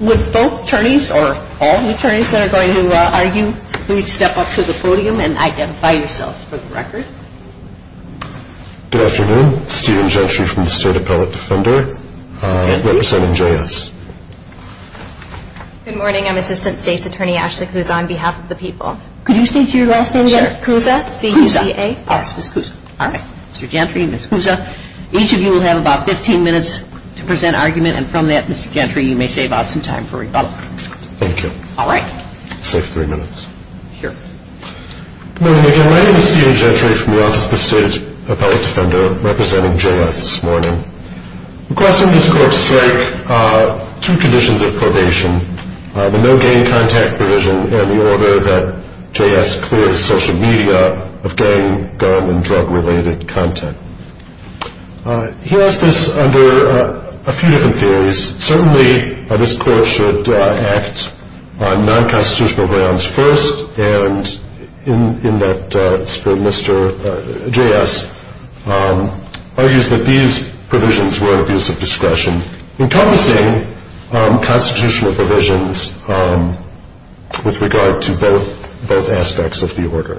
With both attorneys, or all the attorneys that are going to argue, please step up to the podium and identify yourselves for the record. Good afternoon, Stephen Gentry from the State Appellate Defender, representing J.S. Good morning, I'm Assistant State's Attorney Ashley Kouza on behalf of the people. Could you state your last name again? Sure. Kouza? Kouza. Yes, Ms. Kouza. All right. Mr. Gentry, Ms. Kouza. Each of you will have about 15 minutes to present argument, and from that, Mr. Gentry, you may save out some time for rebuttal. Thank you. All right. Safe three minutes. Here. Good morning again. My name is Stephen Gentry from the Office of the State Appellate Defender, representing J.S. this morning. Requests from this court strike two conditions of probation, the no gang contact provision and the order that J.S. clears social media of gang, gun, and drug-related content. He asked this under a few different theories. Certainly, this court should act on non-constitutional grounds first, and in that spirit, Mr. J.S. argues that these provisions were an abuse of discretion, encompassing constitutional provisions with regard to both aspects of the order.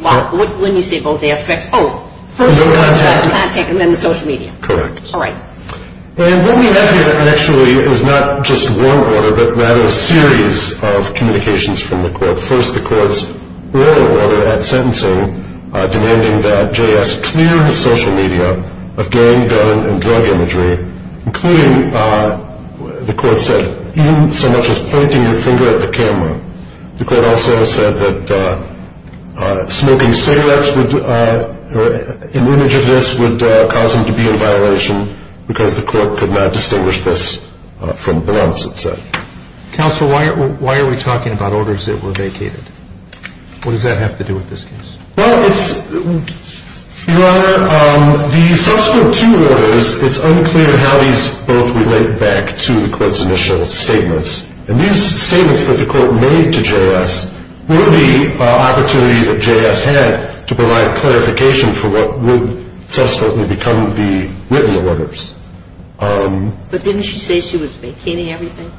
When you say both aspects, oh, first the contact and then the social media. Correct. All right. And what we have here actually is not just one order, but rather a series of communications from the court. First, the court's earlier order at sentencing demanding that J.S. clear his social media of gang, gun, and drug imagery, including, the court said, even so much as pointing your finger at the camera. The court also said that smoking cigarettes in image of this would cause him to be in violation because the court could not distinguish this from blunts, it said. Counsel, why are we talking about orders that were vacated? What does that have to do with this case? Well, it's, Your Honor, the subsequent two orders, it's unclear how these both relate back to the court's initial statements. And these statements that the court made to J.S. were the opportunity that J.S. had to provide clarification for what would subsequently become the written orders. But didn't she say she was vacating everything?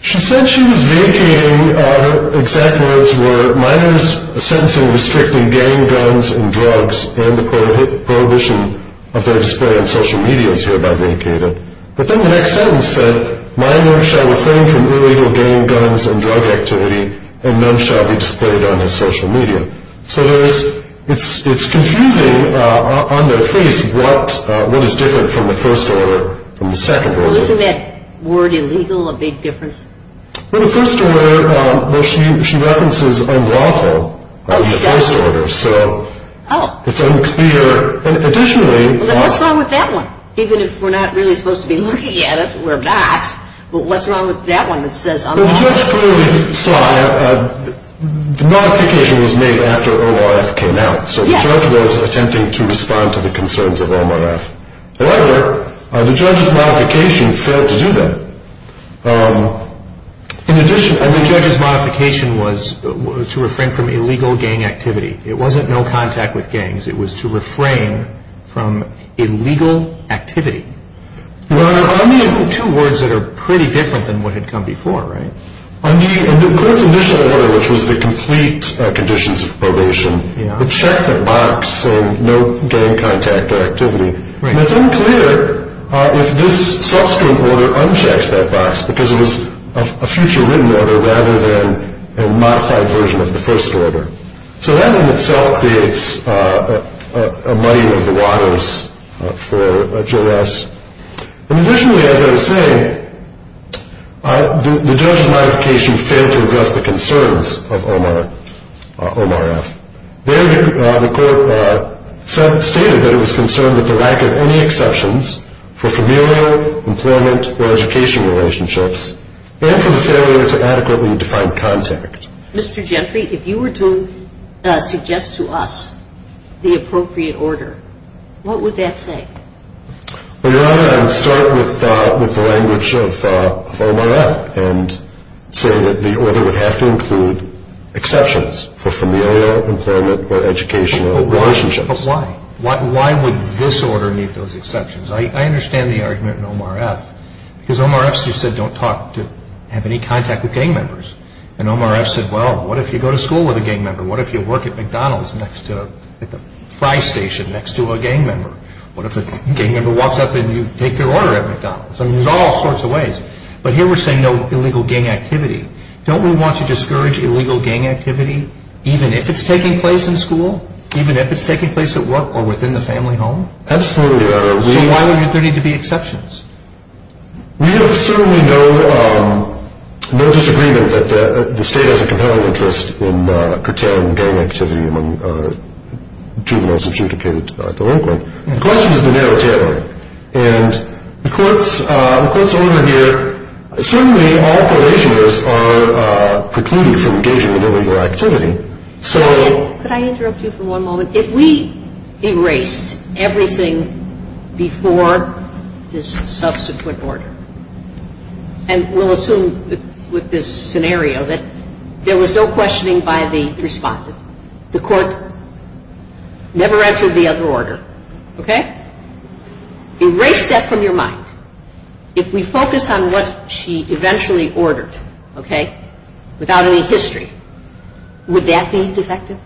She said she was vacating, her exact words were, minors sentencing restricting gang, guns, and drugs, and the prohibition of their display on social media is hereby vacated. But then the next sentence said, minors shall refrain from illegal gang, guns, and drug activity, and none shall be displayed on his social media. So there's, it's confusing on their face what is different from the first order, from the second order. Well, isn't that word illegal a big difference? Well, the first order, well, she references unlawful in the first order, so it's unclear. And additionally... Well, then what's wrong with that one? Even if we're not really supposed to be looking at it, we're not, but what's wrong with that one that says unlawful? Well, the judge clearly saw, the modification was made after ORF came out, so the judge was attempting to respond to the concerns of ORF. The judge's modification failed to do that. In addition, the judge's modification was to refrain from illegal gang activity. It wasn't no contact with gangs. It was to refrain from illegal activity. Two words that are pretty different than what had come before, right? In the court's initial order, which was the complete conditions of probation, the check box and no gang contact activity. And it's unclear if this subsequent order unchecks that box because it was a future written order rather than a modified version of the first order. So that in itself creates a muddying of the waters for JOS. And additionally, as I was saying, the judge's modification failed to address the concerns of ORF. There, the court stated that it was concerned with the lack of any exceptions for familial, employment, or education relationships and for the failure to adequately define contact. Mr. Gentry, if you were to suggest to us the appropriate order, what would that say? Your Honor, I would start with the language of ORF and say that the order would have to include exceptions for familial, employment, or educational relationships. But why? Why would this order need those exceptions? I understand the argument in OMRF because OMRF said don't have any contact with gang members. And OMRF said, well, what if you go to school with a gang member? What if you work at McDonald's at the fry station next to a gang member? What if a gang member walks up and you take their order at McDonald's? I mean, there's all sorts of ways. But here we're saying no illegal gang activity. Don't we want to discourage illegal gang activity even if it's taking place in school, even if it's taking place at work or within the family home? Absolutely, Your Honor. So why would there need to be exceptions? We have certainly no disagreement that the State has a compelling interest in curtailing gang activity among juveniles adjudicated to delinquent. The question is the narrative. And the Court's order here, certainly all probationers are precluded from engaging in illegal activity. Could I interrupt you for one moment? If we erased everything before this subsequent order, and we'll assume with this scenario that there was no questioning by the respondent, the Court never entered the other order, okay? Erase that from your mind. If we focus on what she eventually ordered, okay, without any history, would that be defective?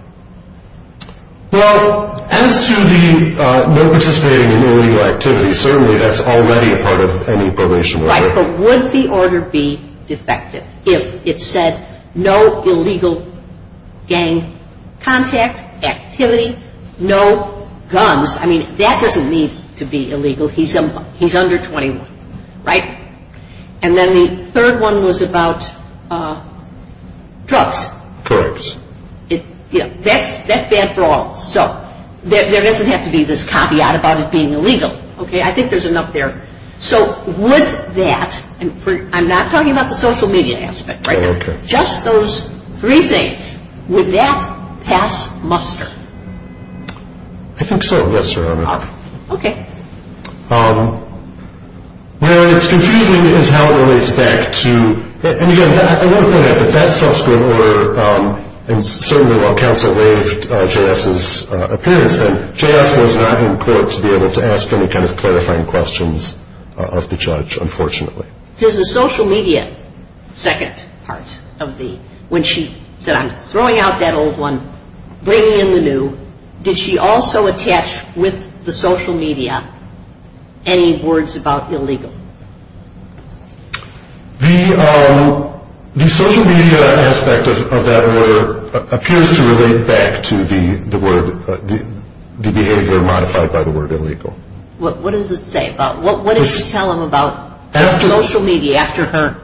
Well, as to the no participating in illegal activity, certainly that's already a part of any probation order. Right, but would the order be defective if it said no illegal gang contact, activity, no guns? I mean, that doesn't need to be illegal. He's under 21, right? And then the third one was about drugs. Drugs. Yeah, that's bad for all. So there doesn't have to be this copyright about it being illegal, okay? I think there's enough there. So would that, and I'm not talking about the social media aspect, right? Okay. Just those three things, would that pass muster? I think so, yes, Your Honor. Okay. Where it's confusing is how it relates back to, and again, I want to point out that that subsequent order, and certainly while counsel waived J.S.'s appearance, J.S. was not in court to be able to ask any kind of clarifying questions of the judge, unfortunately. Does the social media second part of the, when she said, I'm throwing out that old one, bringing in the new, did she also attach with the social media any words about illegal? The social media aspect of that order appears to relate back to the word, the behavior modified by the word illegal. What does it say about, what did you tell him about? Social media, after her.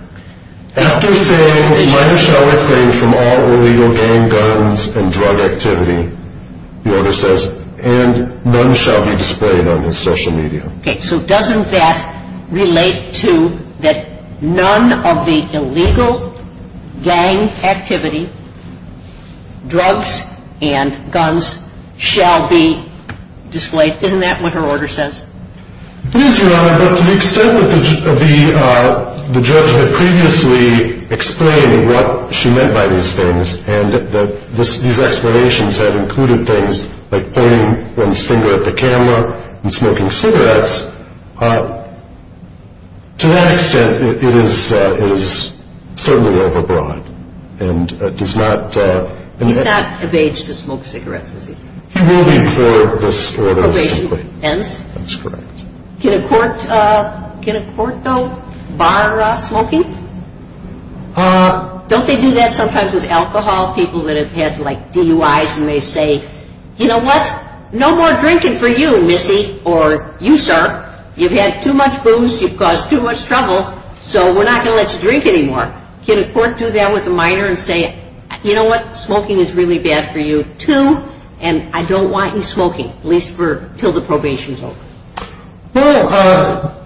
After saying, mine shall refrain from all illegal gang guns and drug activity, the order says, and none shall be displayed on his social media. Okay. So doesn't that relate to that none of the illegal gang activity, drugs and guns, shall be displayed? Isn't that what her order says? It is, Your Honor, but to the extent that the judge had previously explained what she meant by these things, and that these explanations had included things like pointing one's finger at the camera and smoking cigarettes, to that extent it is certainly overbroad and does not. Is that an evasion to smoke cigarettes? It will be for this order. Evasion, hence? That's correct. Can a court, though, bar smoking? Don't they do that sometimes with alcohol, people that have had DUIs and they say, you know what, no more drinking for you, missy, or you, sir. You've had too much booze, you've caused too much trouble, so we're not going to let you drink anymore. Can a court do that with a minor and say, you know what, smoking is really bad for you, too, and I don't want you smoking, at least until the probation is over? Well,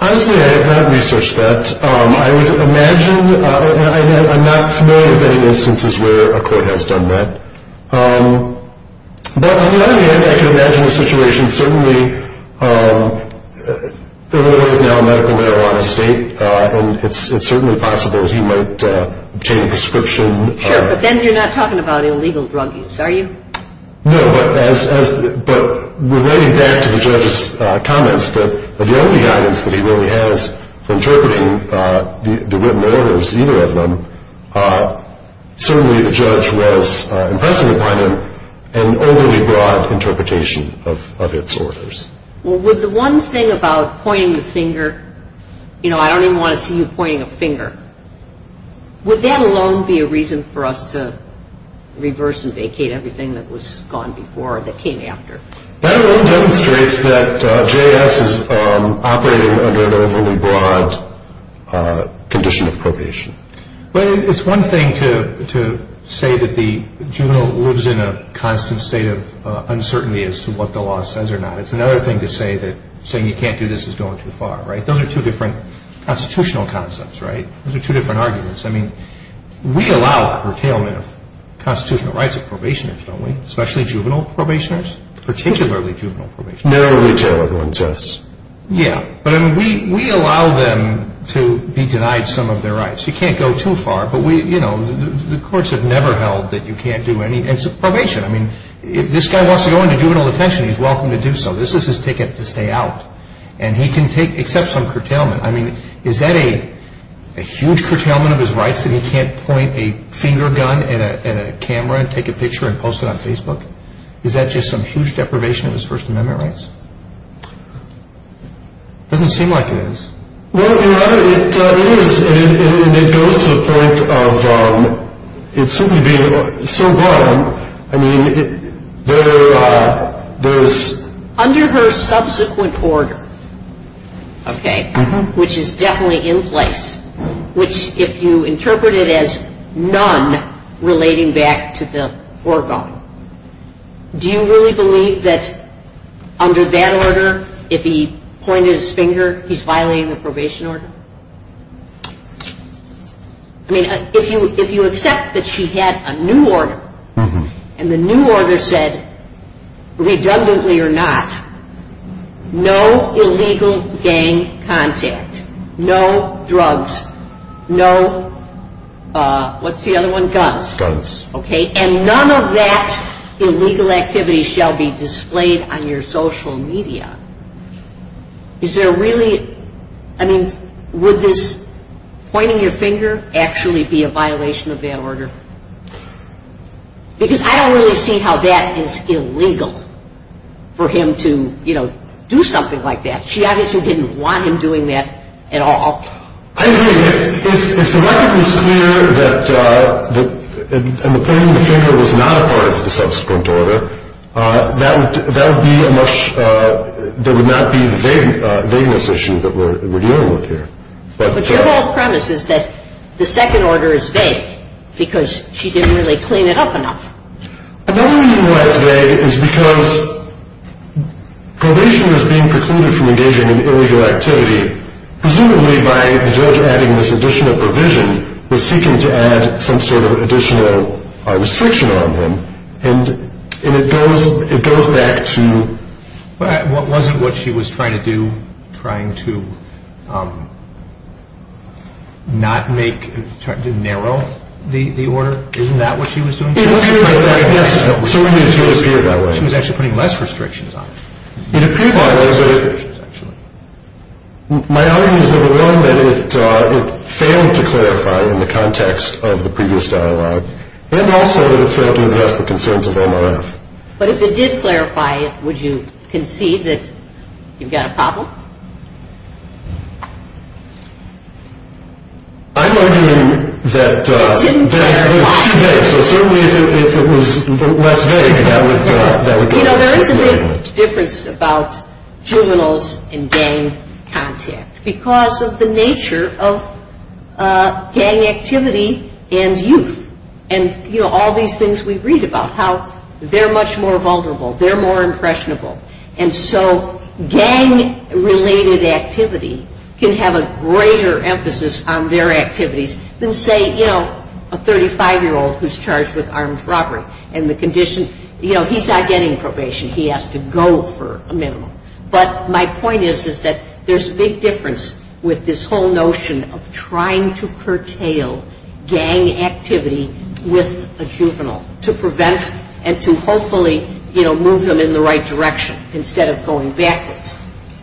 honestly, I have not researched that. I would imagine, and I'm not familiar with any instances where a court has done that. But on the other hand, I can imagine a situation, certainly, Illinois is now a medical marijuana state, and it's certainly possible that he might obtain a prescription. Sure, but then you're not talking about illegal drug use, are you? No, but relating back to the judge's comments, the only guidance that he really has for interpreting the written orders, either of them, certainly the judge was impressing upon him an overly broad interpretation of its orders. Well, with the one thing about pointing the finger, you know, I don't even want to see you pointing a finger. Would that alone be a reason for us to reverse and vacate everything that was gone before or that came after? That alone demonstrates that JS is operating under an overly broad condition of probation. Well, it's one thing to say that the juvenile lives in a constant state of uncertainty as to what the law says or not. It's another thing to say that saying you can't do this is going too far, right? Those are two different constitutional concepts, right? Those are two different arguments. I mean, we allow curtailment of constitutional rights of probationers, don't we, especially juvenile probationers, particularly juvenile probationers. No retailer going to us. Yeah, but I mean, we allow them to be denied some of their rights. You can't go too far, but we, you know, the courts have never held that you can't do anything. It's a probation. I mean, if this guy wants to go into juvenile detention, he's welcome to do so. This is his ticket to stay out, and he can take except some curtailment. I mean, is that a huge curtailment of his rights that he can't point a finger gun at a camera and take a picture and post it on Facebook? Is that just some huge deprivation of his First Amendment rights? It doesn't seem like it is. Well, Your Honor, it is, and it goes to the point of it simply being so broad. I mean, there's – Under her subsequent order, okay, which is definitely in place, which if you interpret it as none relating back to the foregone, do you really believe that under that order, if he pointed his finger, he's violating the probation order? I mean, if you accept that she had a new order, and the new order said, redundantly or not, no illegal gang contact, no drugs, no – what's the other one? Guns. Okay? And none of that illegal activity shall be displayed on your social media. Is there really – I mean, would this pointing your finger actually be a violation of that order? Because I don't really see how that is illegal for him to, you know, do something like that. She obviously didn't want him doing that at all. I agree. If the record was clear that pointing the finger was not a part of the subsequent order, that would be a much – there would not be the vagueness issue that we're dealing with here. But your whole premise is that the second order is vague because she didn't really clean it up enough. Another reason why it's vague is because probation was being precluded from engaging in illegal activity, presumably by the judge adding this additional provision, was seeking to add some sort of additional restriction on him. And it goes back to – Wasn't what she was trying to do trying to not make – to narrow the order? Isn't that what she was doing? Yes. So it did appear that way. She was actually putting less restrictions on him. It appeared like that, but my argument is, number one, that it failed to clarify in the context of the previous dialogue, and also that it failed to address the concerns of OMRF. But if it did clarify it, would you concede that you've got a problem? I'm arguing that it's too vague. So certainly if it was less vague, that would be the decision. You know, there is a big difference about juveniles and gang contact because of the nature of gang activity and youth. And, you know, all these things we read about, how they're much more vulnerable, they're more impressionable. And so gang-related activity can have a greater emphasis on their activities than, say, you know, a 35-year-old who's charged with armed robbery. And the condition, you know, he's not getting probation. He has to go for a minimum. But my point is, is that there's a big difference with this whole notion of trying to curtail gang activity with a juvenile to prevent and to hopefully, you know, move them in the right direction instead of going backwards.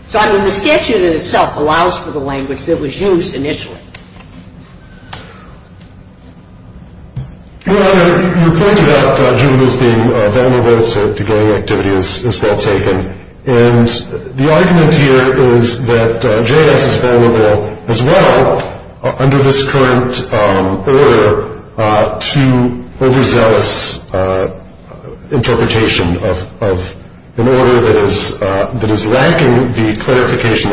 So the statute in itself allows for the language that was used initially. Well, your point about juveniles being vulnerable to gang activity is well taken. And the argument here is that J.S. is vulnerable as well under this current order to overzealous interpretation of an order that is lacking the clarification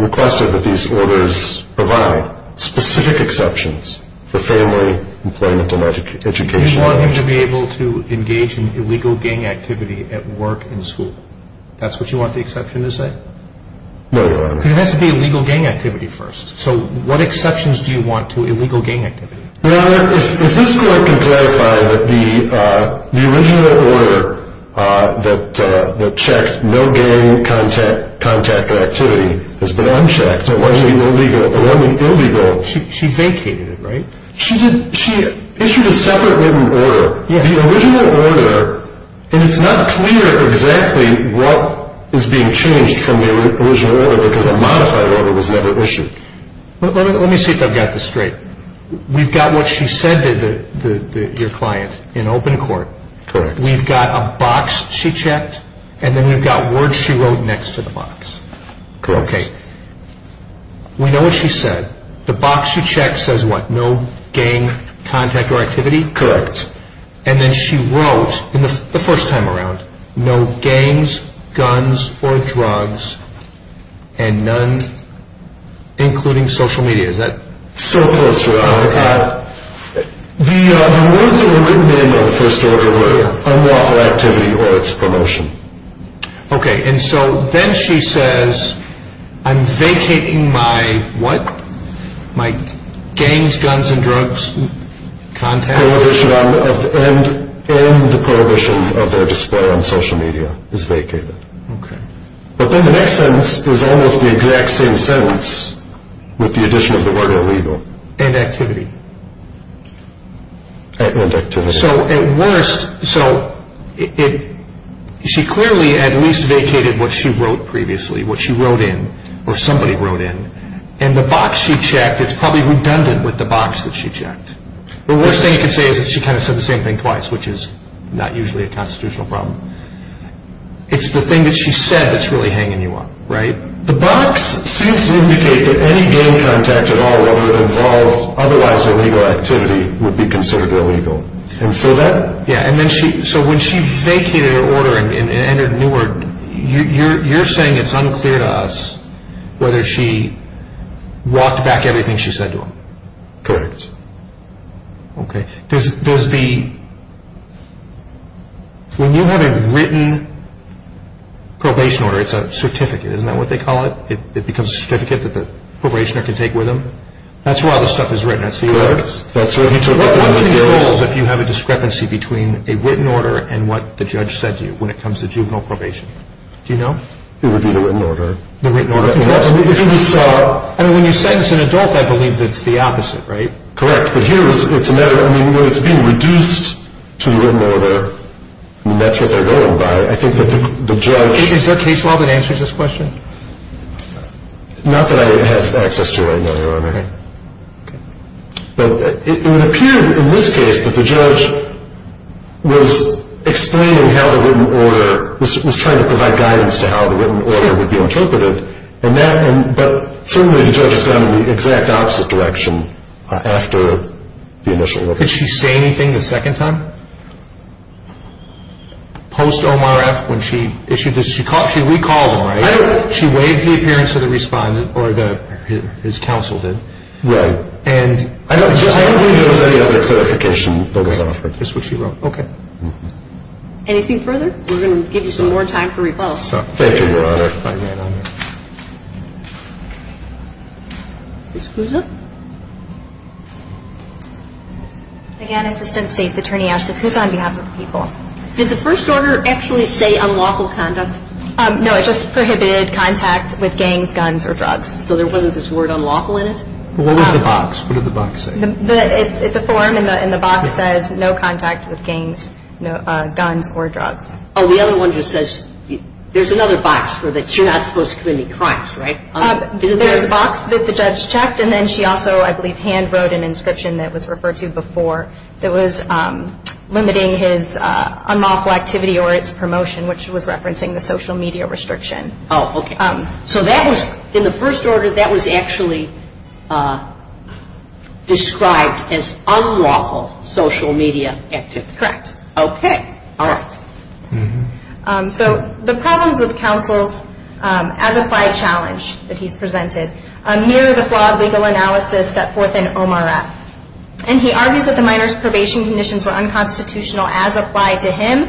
requested that these orders provide specific exceptions for family, employment, and education. You want him to be able to engage in illegal gang activity at work and school. That's what you want the exception to say? No, Your Honor. It has to be illegal gang activity first. So what exceptions do you want to illegal gang activity? Your Honor, if this Court can clarify that the original order that checked no gang contact activity has been unchecked. It wasn't illegal. The one with illegal. She vacated it, right? She did. She issued a separate written order. The original order, and it's not clear exactly what is being changed from the original order because a modified order was never issued. Let me see if I've got this straight. We've got what she said to your client in open court. Correct. We've got a box she checked, and then we've got words she wrote next to the box. Correct. Okay. We know what she said. The box she checked says what? No gang contact or activity? Correct. And then she wrote, the first time around, no gangs, guns, or drugs, and none including social media. Is that? So close, Your Honor. The words that were written in on the first order were unlawful activity or its promotion. Okay. And so then she says, I'm vacating my what? My gangs, guns, and drugs contact? And the prohibition of their display on social media is vacated. Okay. But then the next sentence is almost the exact same sentence with the addition of the word illegal. And activity. And activity. So at worst, so she clearly at least vacated what she wrote previously, what she wrote in or somebody wrote in, and the box she checked is probably redundant with the box that she checked. The worst thing you can say is that she kind of said the same thing twice, which is not usually a constitutional problem. It's the thing that she said that's really hanging you up, right? The box seems to indicate that any gang contact at all, whether it involved otherwise illegal activity, would be considered illegal. And so that? Yeah. So when she vacated her order and entered a new word, you're saying it's unclear to us whether she walked back everything she said to him. Correct. Okay. Does the? When you have a written probation order, it's a certificate, isn't that what they call it? It becomes a certificate that the probationer can take with them? That's where all this stuff is written. Correct. What controls if you have a discrepancy between a written order and what the judge said to you when it comes to juvenile probation? Do you know? It would be the written order. The written order. I mean, when you sentence an adult, I believe it's the opposite, right? Correct. But here it's a matter of, I mean, when it's being reduced to the written order, I mean, that's what they're going by. I think that the judge. Is there a case law that answers this question? Not that I have access to right now, Your Honor. Okay. But it would appear in this case that the judge was explaining how the written order, was trying to provide guidance to how the written order would be interpreted. But certainly the judge has gone in the exact opposite direction after the initial. Did she say anything the second time? Post OMRF when she issued this? She recalled him, right? She waived the appearance of the respondent, or his counsel did. Right. I don't think there was any other clarification that was offered. That's what she wrote. Okay. Anything further? We're going to give you some more time for rebuttals. Thank you, Your Honor. Ms. Cusa? Again, Assistant State's Attorney Ashley Cusa on behalf of the people. Did the first order actually say unlawful conduct? No, it just prohibited contact with gangs, guns, or drugs. So there wasn't this word unlawful in it? What was the box? What did the box say? It's a form, and the box says no contact with gangs, guns, or drugs. Oh, the other one just says there's another box for that you're not supposed to commit any crimes, right? There's a box that the judge checked, and then she also, I believe, hand wrote an inscription that was referred to before that was limiting his unlawful activity or its promotion, which was referencing the social media restriction. Oh, okay. So that was, in the first order, that was actually described as unlawful social media activity? Correct. Okay. All right. So the problems with counsel's as-applied challenge that he's presented mirror the flaw of legal analysis set forth in Omar F., and he argues that the minor's probation conditions were unconstitutional as applied to him,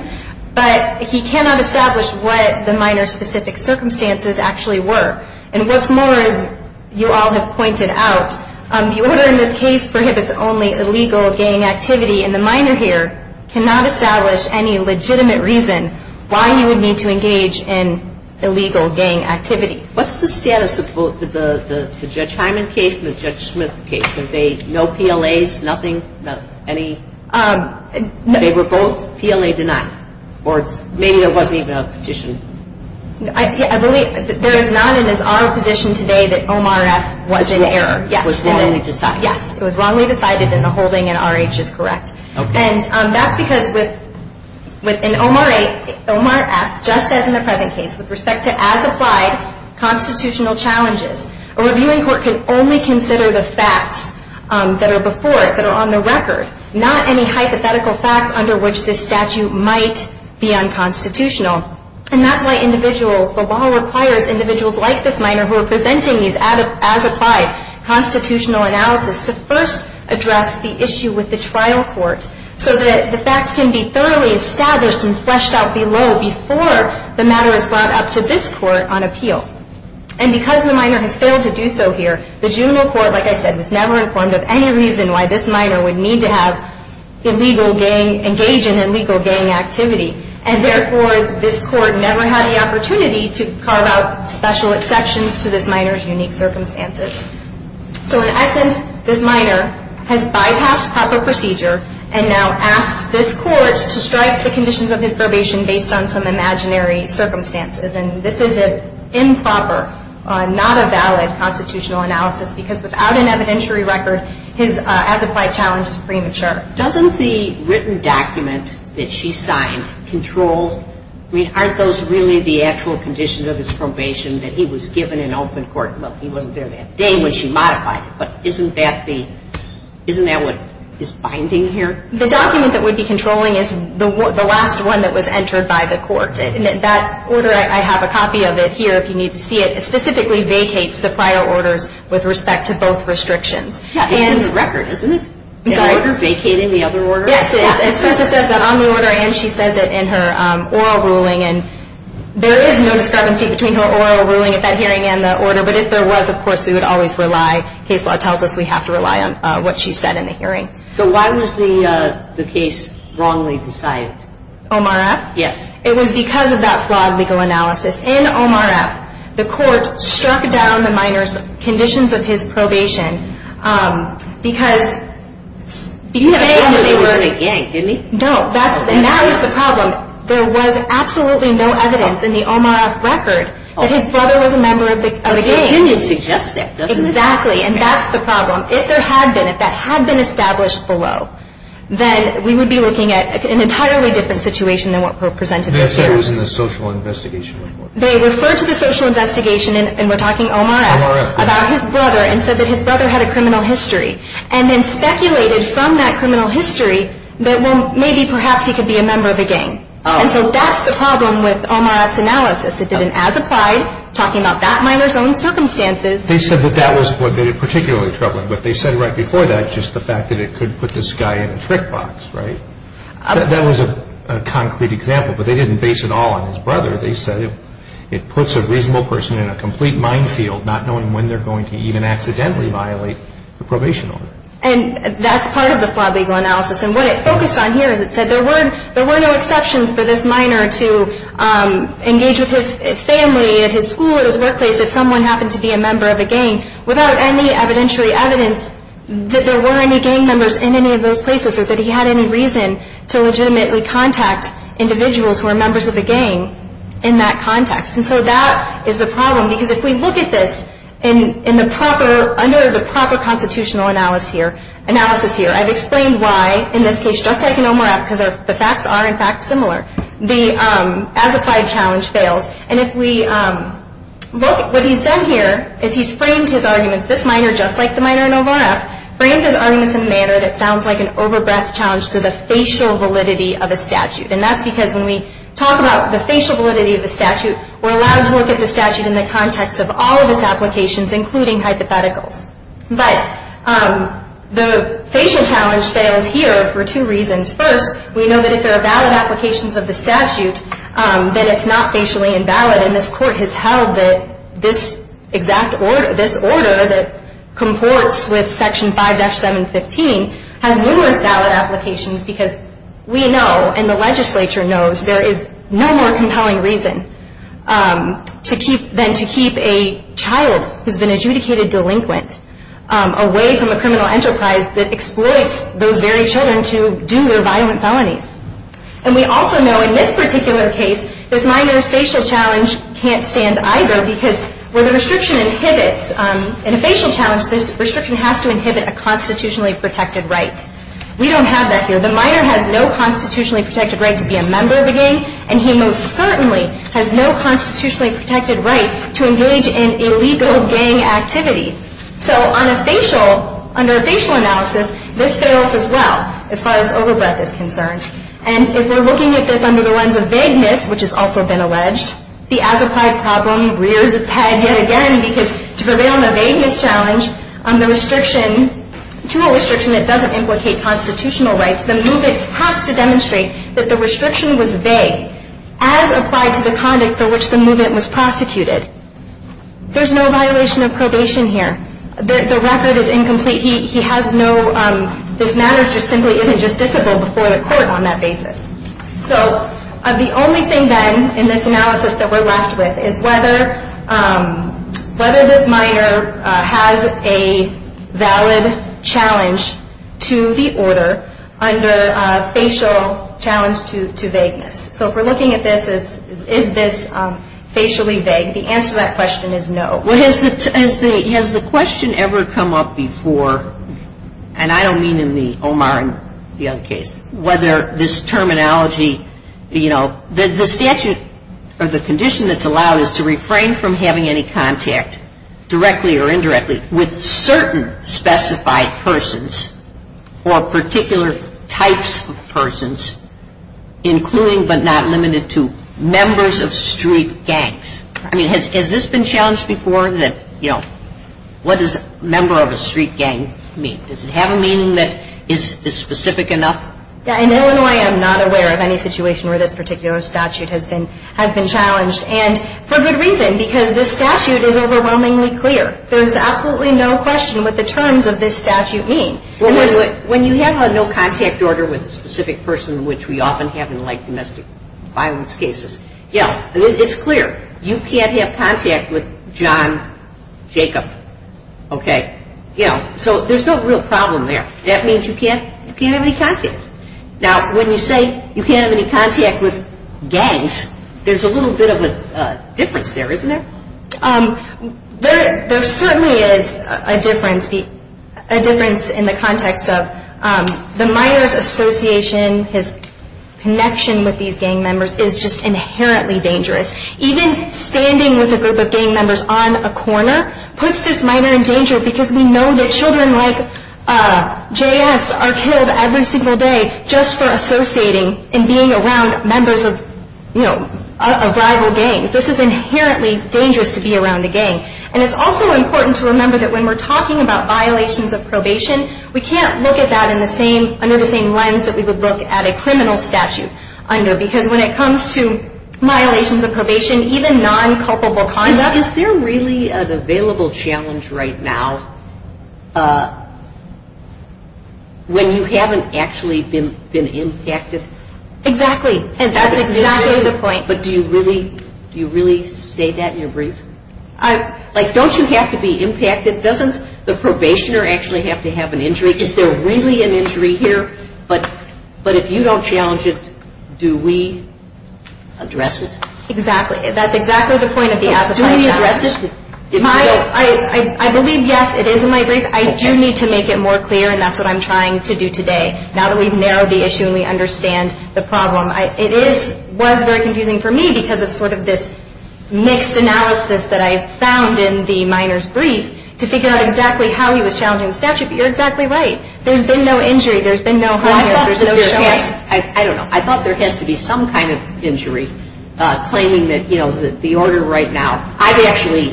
but he cannot establish what the minor's specific circumstances actually were. And what's more is, you all have pointed out, the order in this case prohibits only illegal gang activity, and the minor here cannot establish any legitimate reason why he would need to engage in illegal gang activity. What's the status of both the Judge Hyman case and the Judge Smith case? Did they, no PLAs, nothing, any, they were both PLA denied? Or maybe there wasn't even a petition. I believe there is not in his oral position today that Omar F. was in error. Yes. It was wrongly decided. Yes, it was wrongly decided in the holding, and R.H. is correct. Okay. And that's because with, in Omar F., just as in the present case, with respect to as-applied constitutional challenges, a reviewing court can only consider the facts that are before it, that are on the record, not any hypothetical facts under which this statute might be unconstitutional. And that's why individuals, the law requires individuals like this minor who are presenting these as-applied constitutional analysis to first address the issue with the trial court so that the facts can be thoroughly established and fleshed out below before the matter is brought up to this court on appeal. And because the minor has failed to do so here, the juvenile court, like I said, was never informed of any reason why this minor would need to engage in illegal gang activity. And therefore, this court never had the opportunity to carve out special exceptions to this minor's unique circumstances. So in essence, this minor has bypassed proper procedure and now asks this court to strike the conditions of his probation based on some imaginary circumstances. And this is an improper, not a valid constitutional analysis because without an evidentiary record, his as-applied challenge is premature. Doesn't the written document that she signed control, I mean, aren't those really the actual conditions of his probation that he was given in open court? Well, he wasn't there that day when she modified it, but isn't that the, isn't that what is binding here? The document that would be controlling is the last one that was entered by the court. And that order, I have a copy of it here if you need to see it, it specifically vacates the prior orders with respect to both restrictions. Yeah, it's in the record, isn't it? I'm sorry? The order vacating the other order? Yes, it is. It says that on the order and she says it in her oral ruling. And there is no discrepancy between her oral ruling at that hearing and the order. But if there was, of course, we would always rely, case law tells us we have to rely on what she said in the hearing. So why was the case wrongly decided? Omar F.? Yes. It was because of that flawed legal analysis. In Omar F., the court struck down the minor's conditions of his probation because, because they were. He had a brother that was in a gang, didn't he? No. And that was the problem. There was absolutely no evidence in the Omar F. record that his brother was a member of a gang. But the opinion suggests that, doesn't it? Exactly. And that's the problem. If there had been, if that had been established below, then we would be looking at an entirely different situation than what presented this hearing. I guess that was in the social investigation report. They referred to the social investigation, and we're talking Omar F. Omar F. About his brother and said that his brother had a criminal history. And then speculated from that criminal history that, well, maybe perhaps he could be a member of a gang. And so that's the problem with Omar F.'s analysis. It didn't, as applied, talking about that minor's own circumstances. They said that that was what made it particularly troubling. But they said right before that just the fact that it could put this guy in a trick box, right? That was a concrete example, but they didn't base it all on his brother. They said it puts a reasonable person in a complete minefield, not knowing when they're going to even accidentally violate the probation order. And that's part of the flawed legal analysis. And what it focused on here is it said there were no exceptions for this minor to engage with his family, at his school, at his workplace, if someone happened to be a member of a gang, without any evidentiary evidence that there were any gang members in any of those places or that he had any reason to legitimately contact individuals who are members of a gang in that context. And so that is the problem. Because if we look at this in the proper, under the proper constitutional analysis here, I've explained why, in this case, just like in Omar F., because the facts are, in fact, similar, the as-applied challenge fails. And if we look at what he's done here is he's framed his arguments, this minor, just like the minor in Omar F., framed his arguments in a manner that sounds like an over-breath challenge to the facial validity of a statute. And that's because when we talk about the facial validity of a statute, we're allowed to look at the statute in the context of all of its applications, including hypotheticals. But the facial challenge fails here for two reasons. First, we know that if there are valid applications of the statute, then it's not facially invalid. And this court has held that this exact order, this order that comports with Section 5-715, has numerous valid applications because we know, and the legislature knows, there is no more compelling reason than to keep a child who's been adjudicated delinquent away from a criminal enterprise that exploits those very children to do their violent felonies. And we also know in this particular case, this minor's facial challenge can't stand either because where the restriction inhibits, in a facial challenge, this restriction has to inhibit a constitutionally protected right. We don't have that here. The minor has no constitutionally protected right to be a member of a gang, and he most certainly has no constitutionally protected right to engage in illegal gang activity. So on a facial, under a facial analysis, this fails as well as far as over-breath is concerned. And if we're looking at this under the lens of vagueness, which has also been alleged, the as-applied problem rears its head yet again because to prevail in a vagueness challenge, the restriction, to a restriction that doesn't implicate constitutional rights, the movement has to demonstrate that the restriction was vague, as applied to the conduct for which the movement was prosecuted. There's no violation of probation here. The record is incomplete. He has no, this matter simply isn't justiciable before the court on that basis. So the only thing then in this analysis that we're left with is whether this minor has a valid challenge to the order under a facial challenge to vagueness. So if we're looking at this, is this facially vague, the answer to that question is no. Well, has the question ever come up before, and I don't mean in the Omar and Young case, whether this terminology, you know, the statute or the condition that's allowed is to refrain from having any contact directly or indirectly with certain specified persons or particular types of persons, including but not limited to members of street gangs. I mean, has this been challenged before that, you know, what does member of a street gang mean? Does it have a meaning that is specific enough? In Illinois, I'm not aware of any situation where this particular statute has been challenged, and for good reason, because this statute is overwhelmingly clear. There's absolutely no question what the terms of this statute mean. When you have a no contact order with a specific person, which we often have in like domestic violence cases, you know, it's clear, you can't have contact with John Jacob, okay? You know, so there's no real problem there. That means you can't have any contact. Now, when you say you can't have any contact with gangs, there's a little bit of a difference there, isn't there? There certainly is a difference in the context of the minor's association, his connection with these gang members is just inherently dangerous. Even standing with a group of gang members on a corner puts this minor in danger, because we know that children like J.S. are killed every single day just for associating and being around members of, you know, rival gangs. This is inherently dangerous to be around a gang. And it's also important to remember that when we're talking about violations of probation, we can't look at that under the same lens that we would look at a criminal statute under, because when it comes to violations of probation, even non-culpable conduct. Is there really an available challenge right now when you haven't actually been impacted? Exactly. And that's exactly the point. Like, don't you have to be impacted? Doesn't the probationer actually have to have an injury? Is there really an injury here? But if you don't challenge it, do we address it? Exactly. That's exactly the point of the association. Do we address it? I believe, yes, it is in my brief. I do need to make it more clear, and that's what I'm trying to do today, now that we've narrowed the issue and we understand the problem. It was very confusing for me because of sort of this mixed analysis that I found in the minor's brief to figure out exactly how he was challenging the statute, but you're exactly right. There's been no injury. There's been no harm. I thought there has to be some kind of injury, claiming that, you know, the order right now. I've actually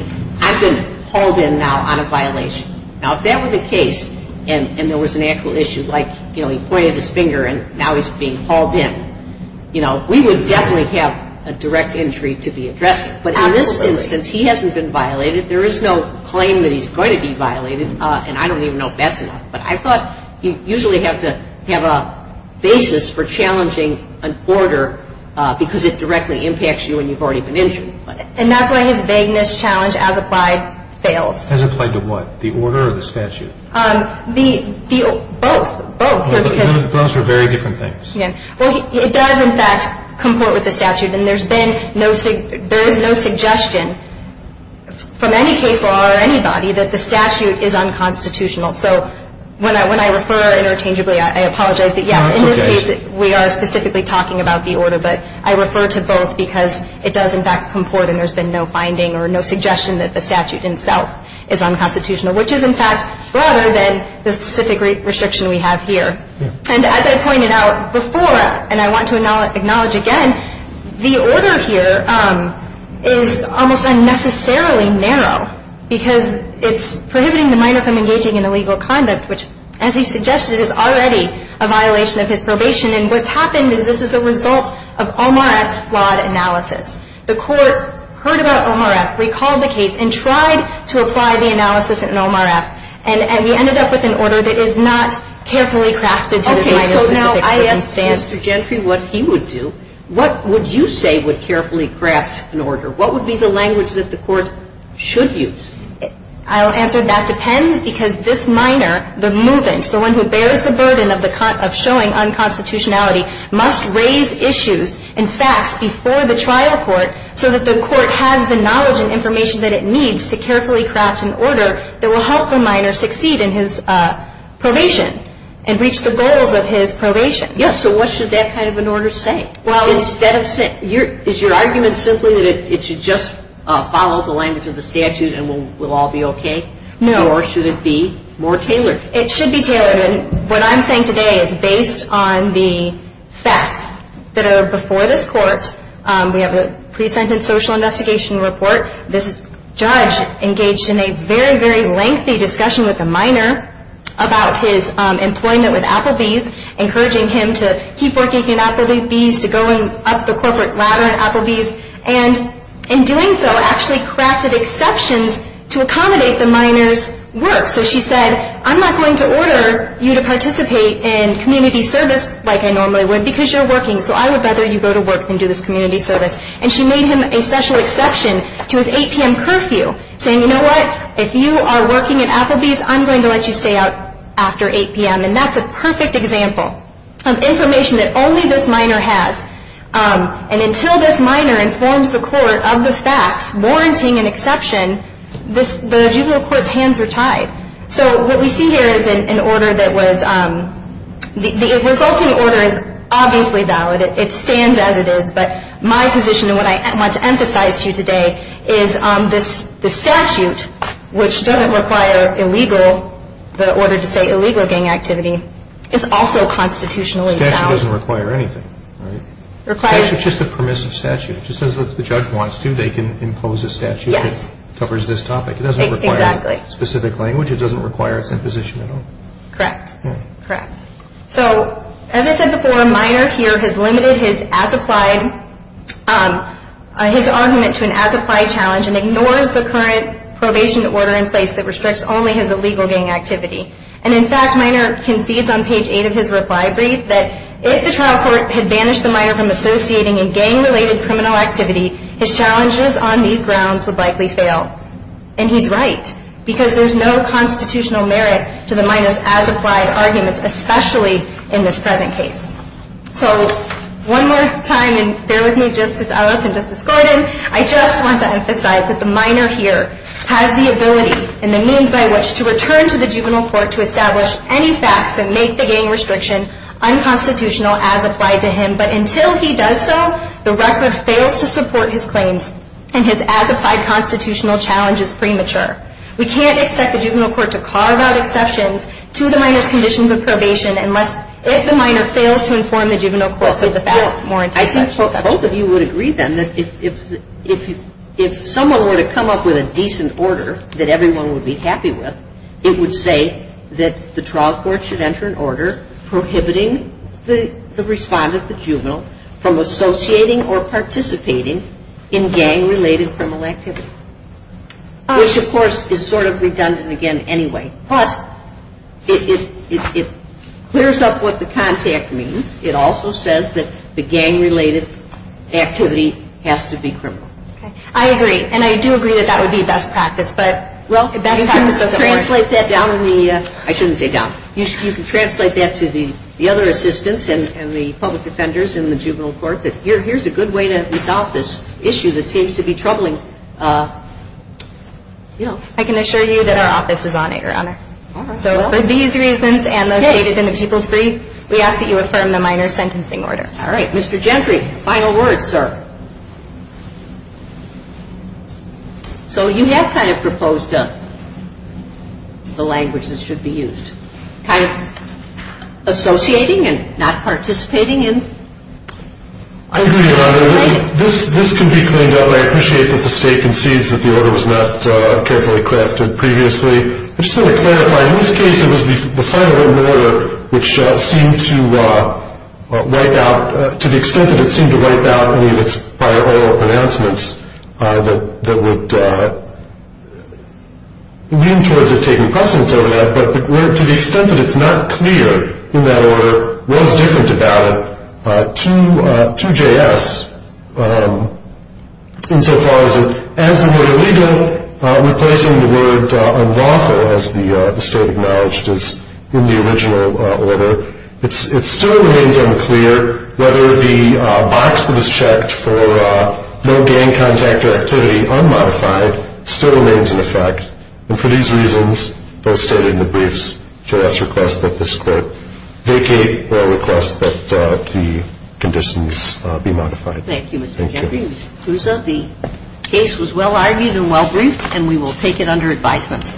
been hauled in now on a violation. Now, if that were the case and there was an actual issue, like, you know, he pointed his finger and now he's being hauled in, you know, we would definitely have a direct injury to be addressed. Absolutely. But in this instance, he hasn't been violated. There is no claim that he's going to be violated, and I don't even know if that's enough. But I thought you usually have to have a basis for challenging an order because it directly impacts you and you've already been injured. And that's why his vagueness challenge, as applied, fails. As applied to what, the order or the statute? Both. Both. Both are very different things. Well, it does, in fact, comport with the statute, and there's been no – there is no suggestion from any case law or anybody that the statute is unconstitutional. So when I refer interchangeably, I apologize. But, yes, in this case, we are specifically talking about the order, but I refer to both because it does, in fact, comport, and there's been no finding or no suggestion that the statute itself is unconstitutional, which is, in fact, broader than the specific restriction we have here. And as I pointed out before, and I want to acknowledge again, the order here is almost unnecessarily narrow because it's prohibiting the minor from engaging in illegal conduct, which, as you suggested, is already a violation of his probation. And what's happened is this is a result of Omar F.'s flawed analysis. The Court heard about Omar F., recalled the case, and tried to apply the analysis in Omar F., and we ended up with an order that is not carefully crafted to design a specific circumstance. Okay. So now I ask Mr. Gentry what he would do. What would you say would carefully craft an order? What would be the language that the Court should use? I'll answer that depends because this minor, the movant, the one who bears the burden of showing unconstitutionality, must raise issues and facts before the trial court so that the court has the knowledge and information that it needs to carefully craft an order that will help the minor succeed in his probation and reach the goals of his probation. Yes, so what should that kind of an order say? Is your argument simply that it should just follow the language of the statute and we'll all be okay? Or should it be more tailored? It should be tailored. What I'm saying today is based on the facts that are before this court, we have a pre-sentence social investigation report. This judge engaged in a very, very lengthy discussion with the minor about his employment with Applebee's, encouraging him to keep working at Applebee's, to go up the corporate ladder at Applebee's, and in doing so actually crafted exceptions to accommodate the minor's work. So she said, I'm not going to order you to participate in community service like I normally would because you're working. So I would rather you go to work than do this community service. And she made him a special exception to his 8 p.m. curfew, saying, you know what? If you are working at Applebee's, I'm going to let you stay out after 8 p.m. And that's a perfect example of information that only this minor has. And until this minor informs the court of the facts, warranting an exception, the juvenile court's hands are tied. So what we see here is an order that was the resulting order is obviously valid. It stands as it is. But my position and what I want to emphasize to you today is the statute, which doesn't require illegal, the order to say illegal gang activity, is also constitutionally valid. The statute doesn't require anything, right? It's just a permissive statute. Just as the judge wants to, they can impose a statute that covers this topic. It doesn't require specific language. It doesn't require its imposition at all. Correct. Correct. So as I said before, Minor here has limited his as-applied, his argument to an as-applied challenge and ignores the current probation order in place that restricts only his illegal gang activity. And, in fact, Minor concedes on page 8 of his reply brief that if the trial court had banished the Minor from associating in gang-related criminal activity, his challenges on these grounds would likely fail. And he's right because there's no constitutional merit to the Minor's as-applied arguments, especially in this present case. So one more time, and bear with me, Justice Ellis and Justice Gordon, I just want to emphasize that the Minor here has the ability and the means by which to return to the juvenile court to establish any facts and make the gang restriction unconstitutional as applied to him. But until he does so, the record fails to support his claims and his as-applied constitutional challenge is premature. We can't expect the juvenile court to carve out exceptions to the Minor's conditions of probation unless, if the Minor fails to inform the juvenile court of the facts warranting such exceptions. Well, I think both of you would agree, then, that if someone were to come up with a decent order that everyone would be happy with, it would say that the trial court should enter an order prohibiting the respondent, the juvenile, from associating or participating in gang-related criminal activity, which, of course, is sort of redundant again anyway. But it clears up what the contact means. It also says that the gang-related activity has to be criminal. Okay. I agree. And I do agree that that would be best practice. You can translate that to the other assistants and the public defenders in the juvenile court that here's a good way to resolve this issue that seems to be troubling. I can assure you that our office is on it, Your Honor. So for these reasons and those stated in the people's brief, we ask that you affirm the Minor's sentencing order. So you have kind of proposed the language that should be used, kind of associating and not participating in. I agree, Your Honor. This can be cleaned up, and I appreciate that the State concedes that the order was not carefully crafted previously. I just want to clarify, in this case, it was the final order which seemed to wipe out, to the extent that it seemed to wipe out any of its prior oral announcements that would lean towards it taking precedence over that, but to the extent that it's not clear in that order what was different about it to JS insofar as it, as the word illegal, replacing the word unlawful, as the State acknowledged as in the original order, it still remains unclear whether the box that was checked for no gang contact or activity unmodified still remains in effect. And for these reasons, as stated in the briefs, JS requests that this Court vacate their request that the conditions be modified. Thank you, Mr. Jeffrey. Mr. Cruzzo, the case was well-argued and well-briefed, and we will take it under advisement.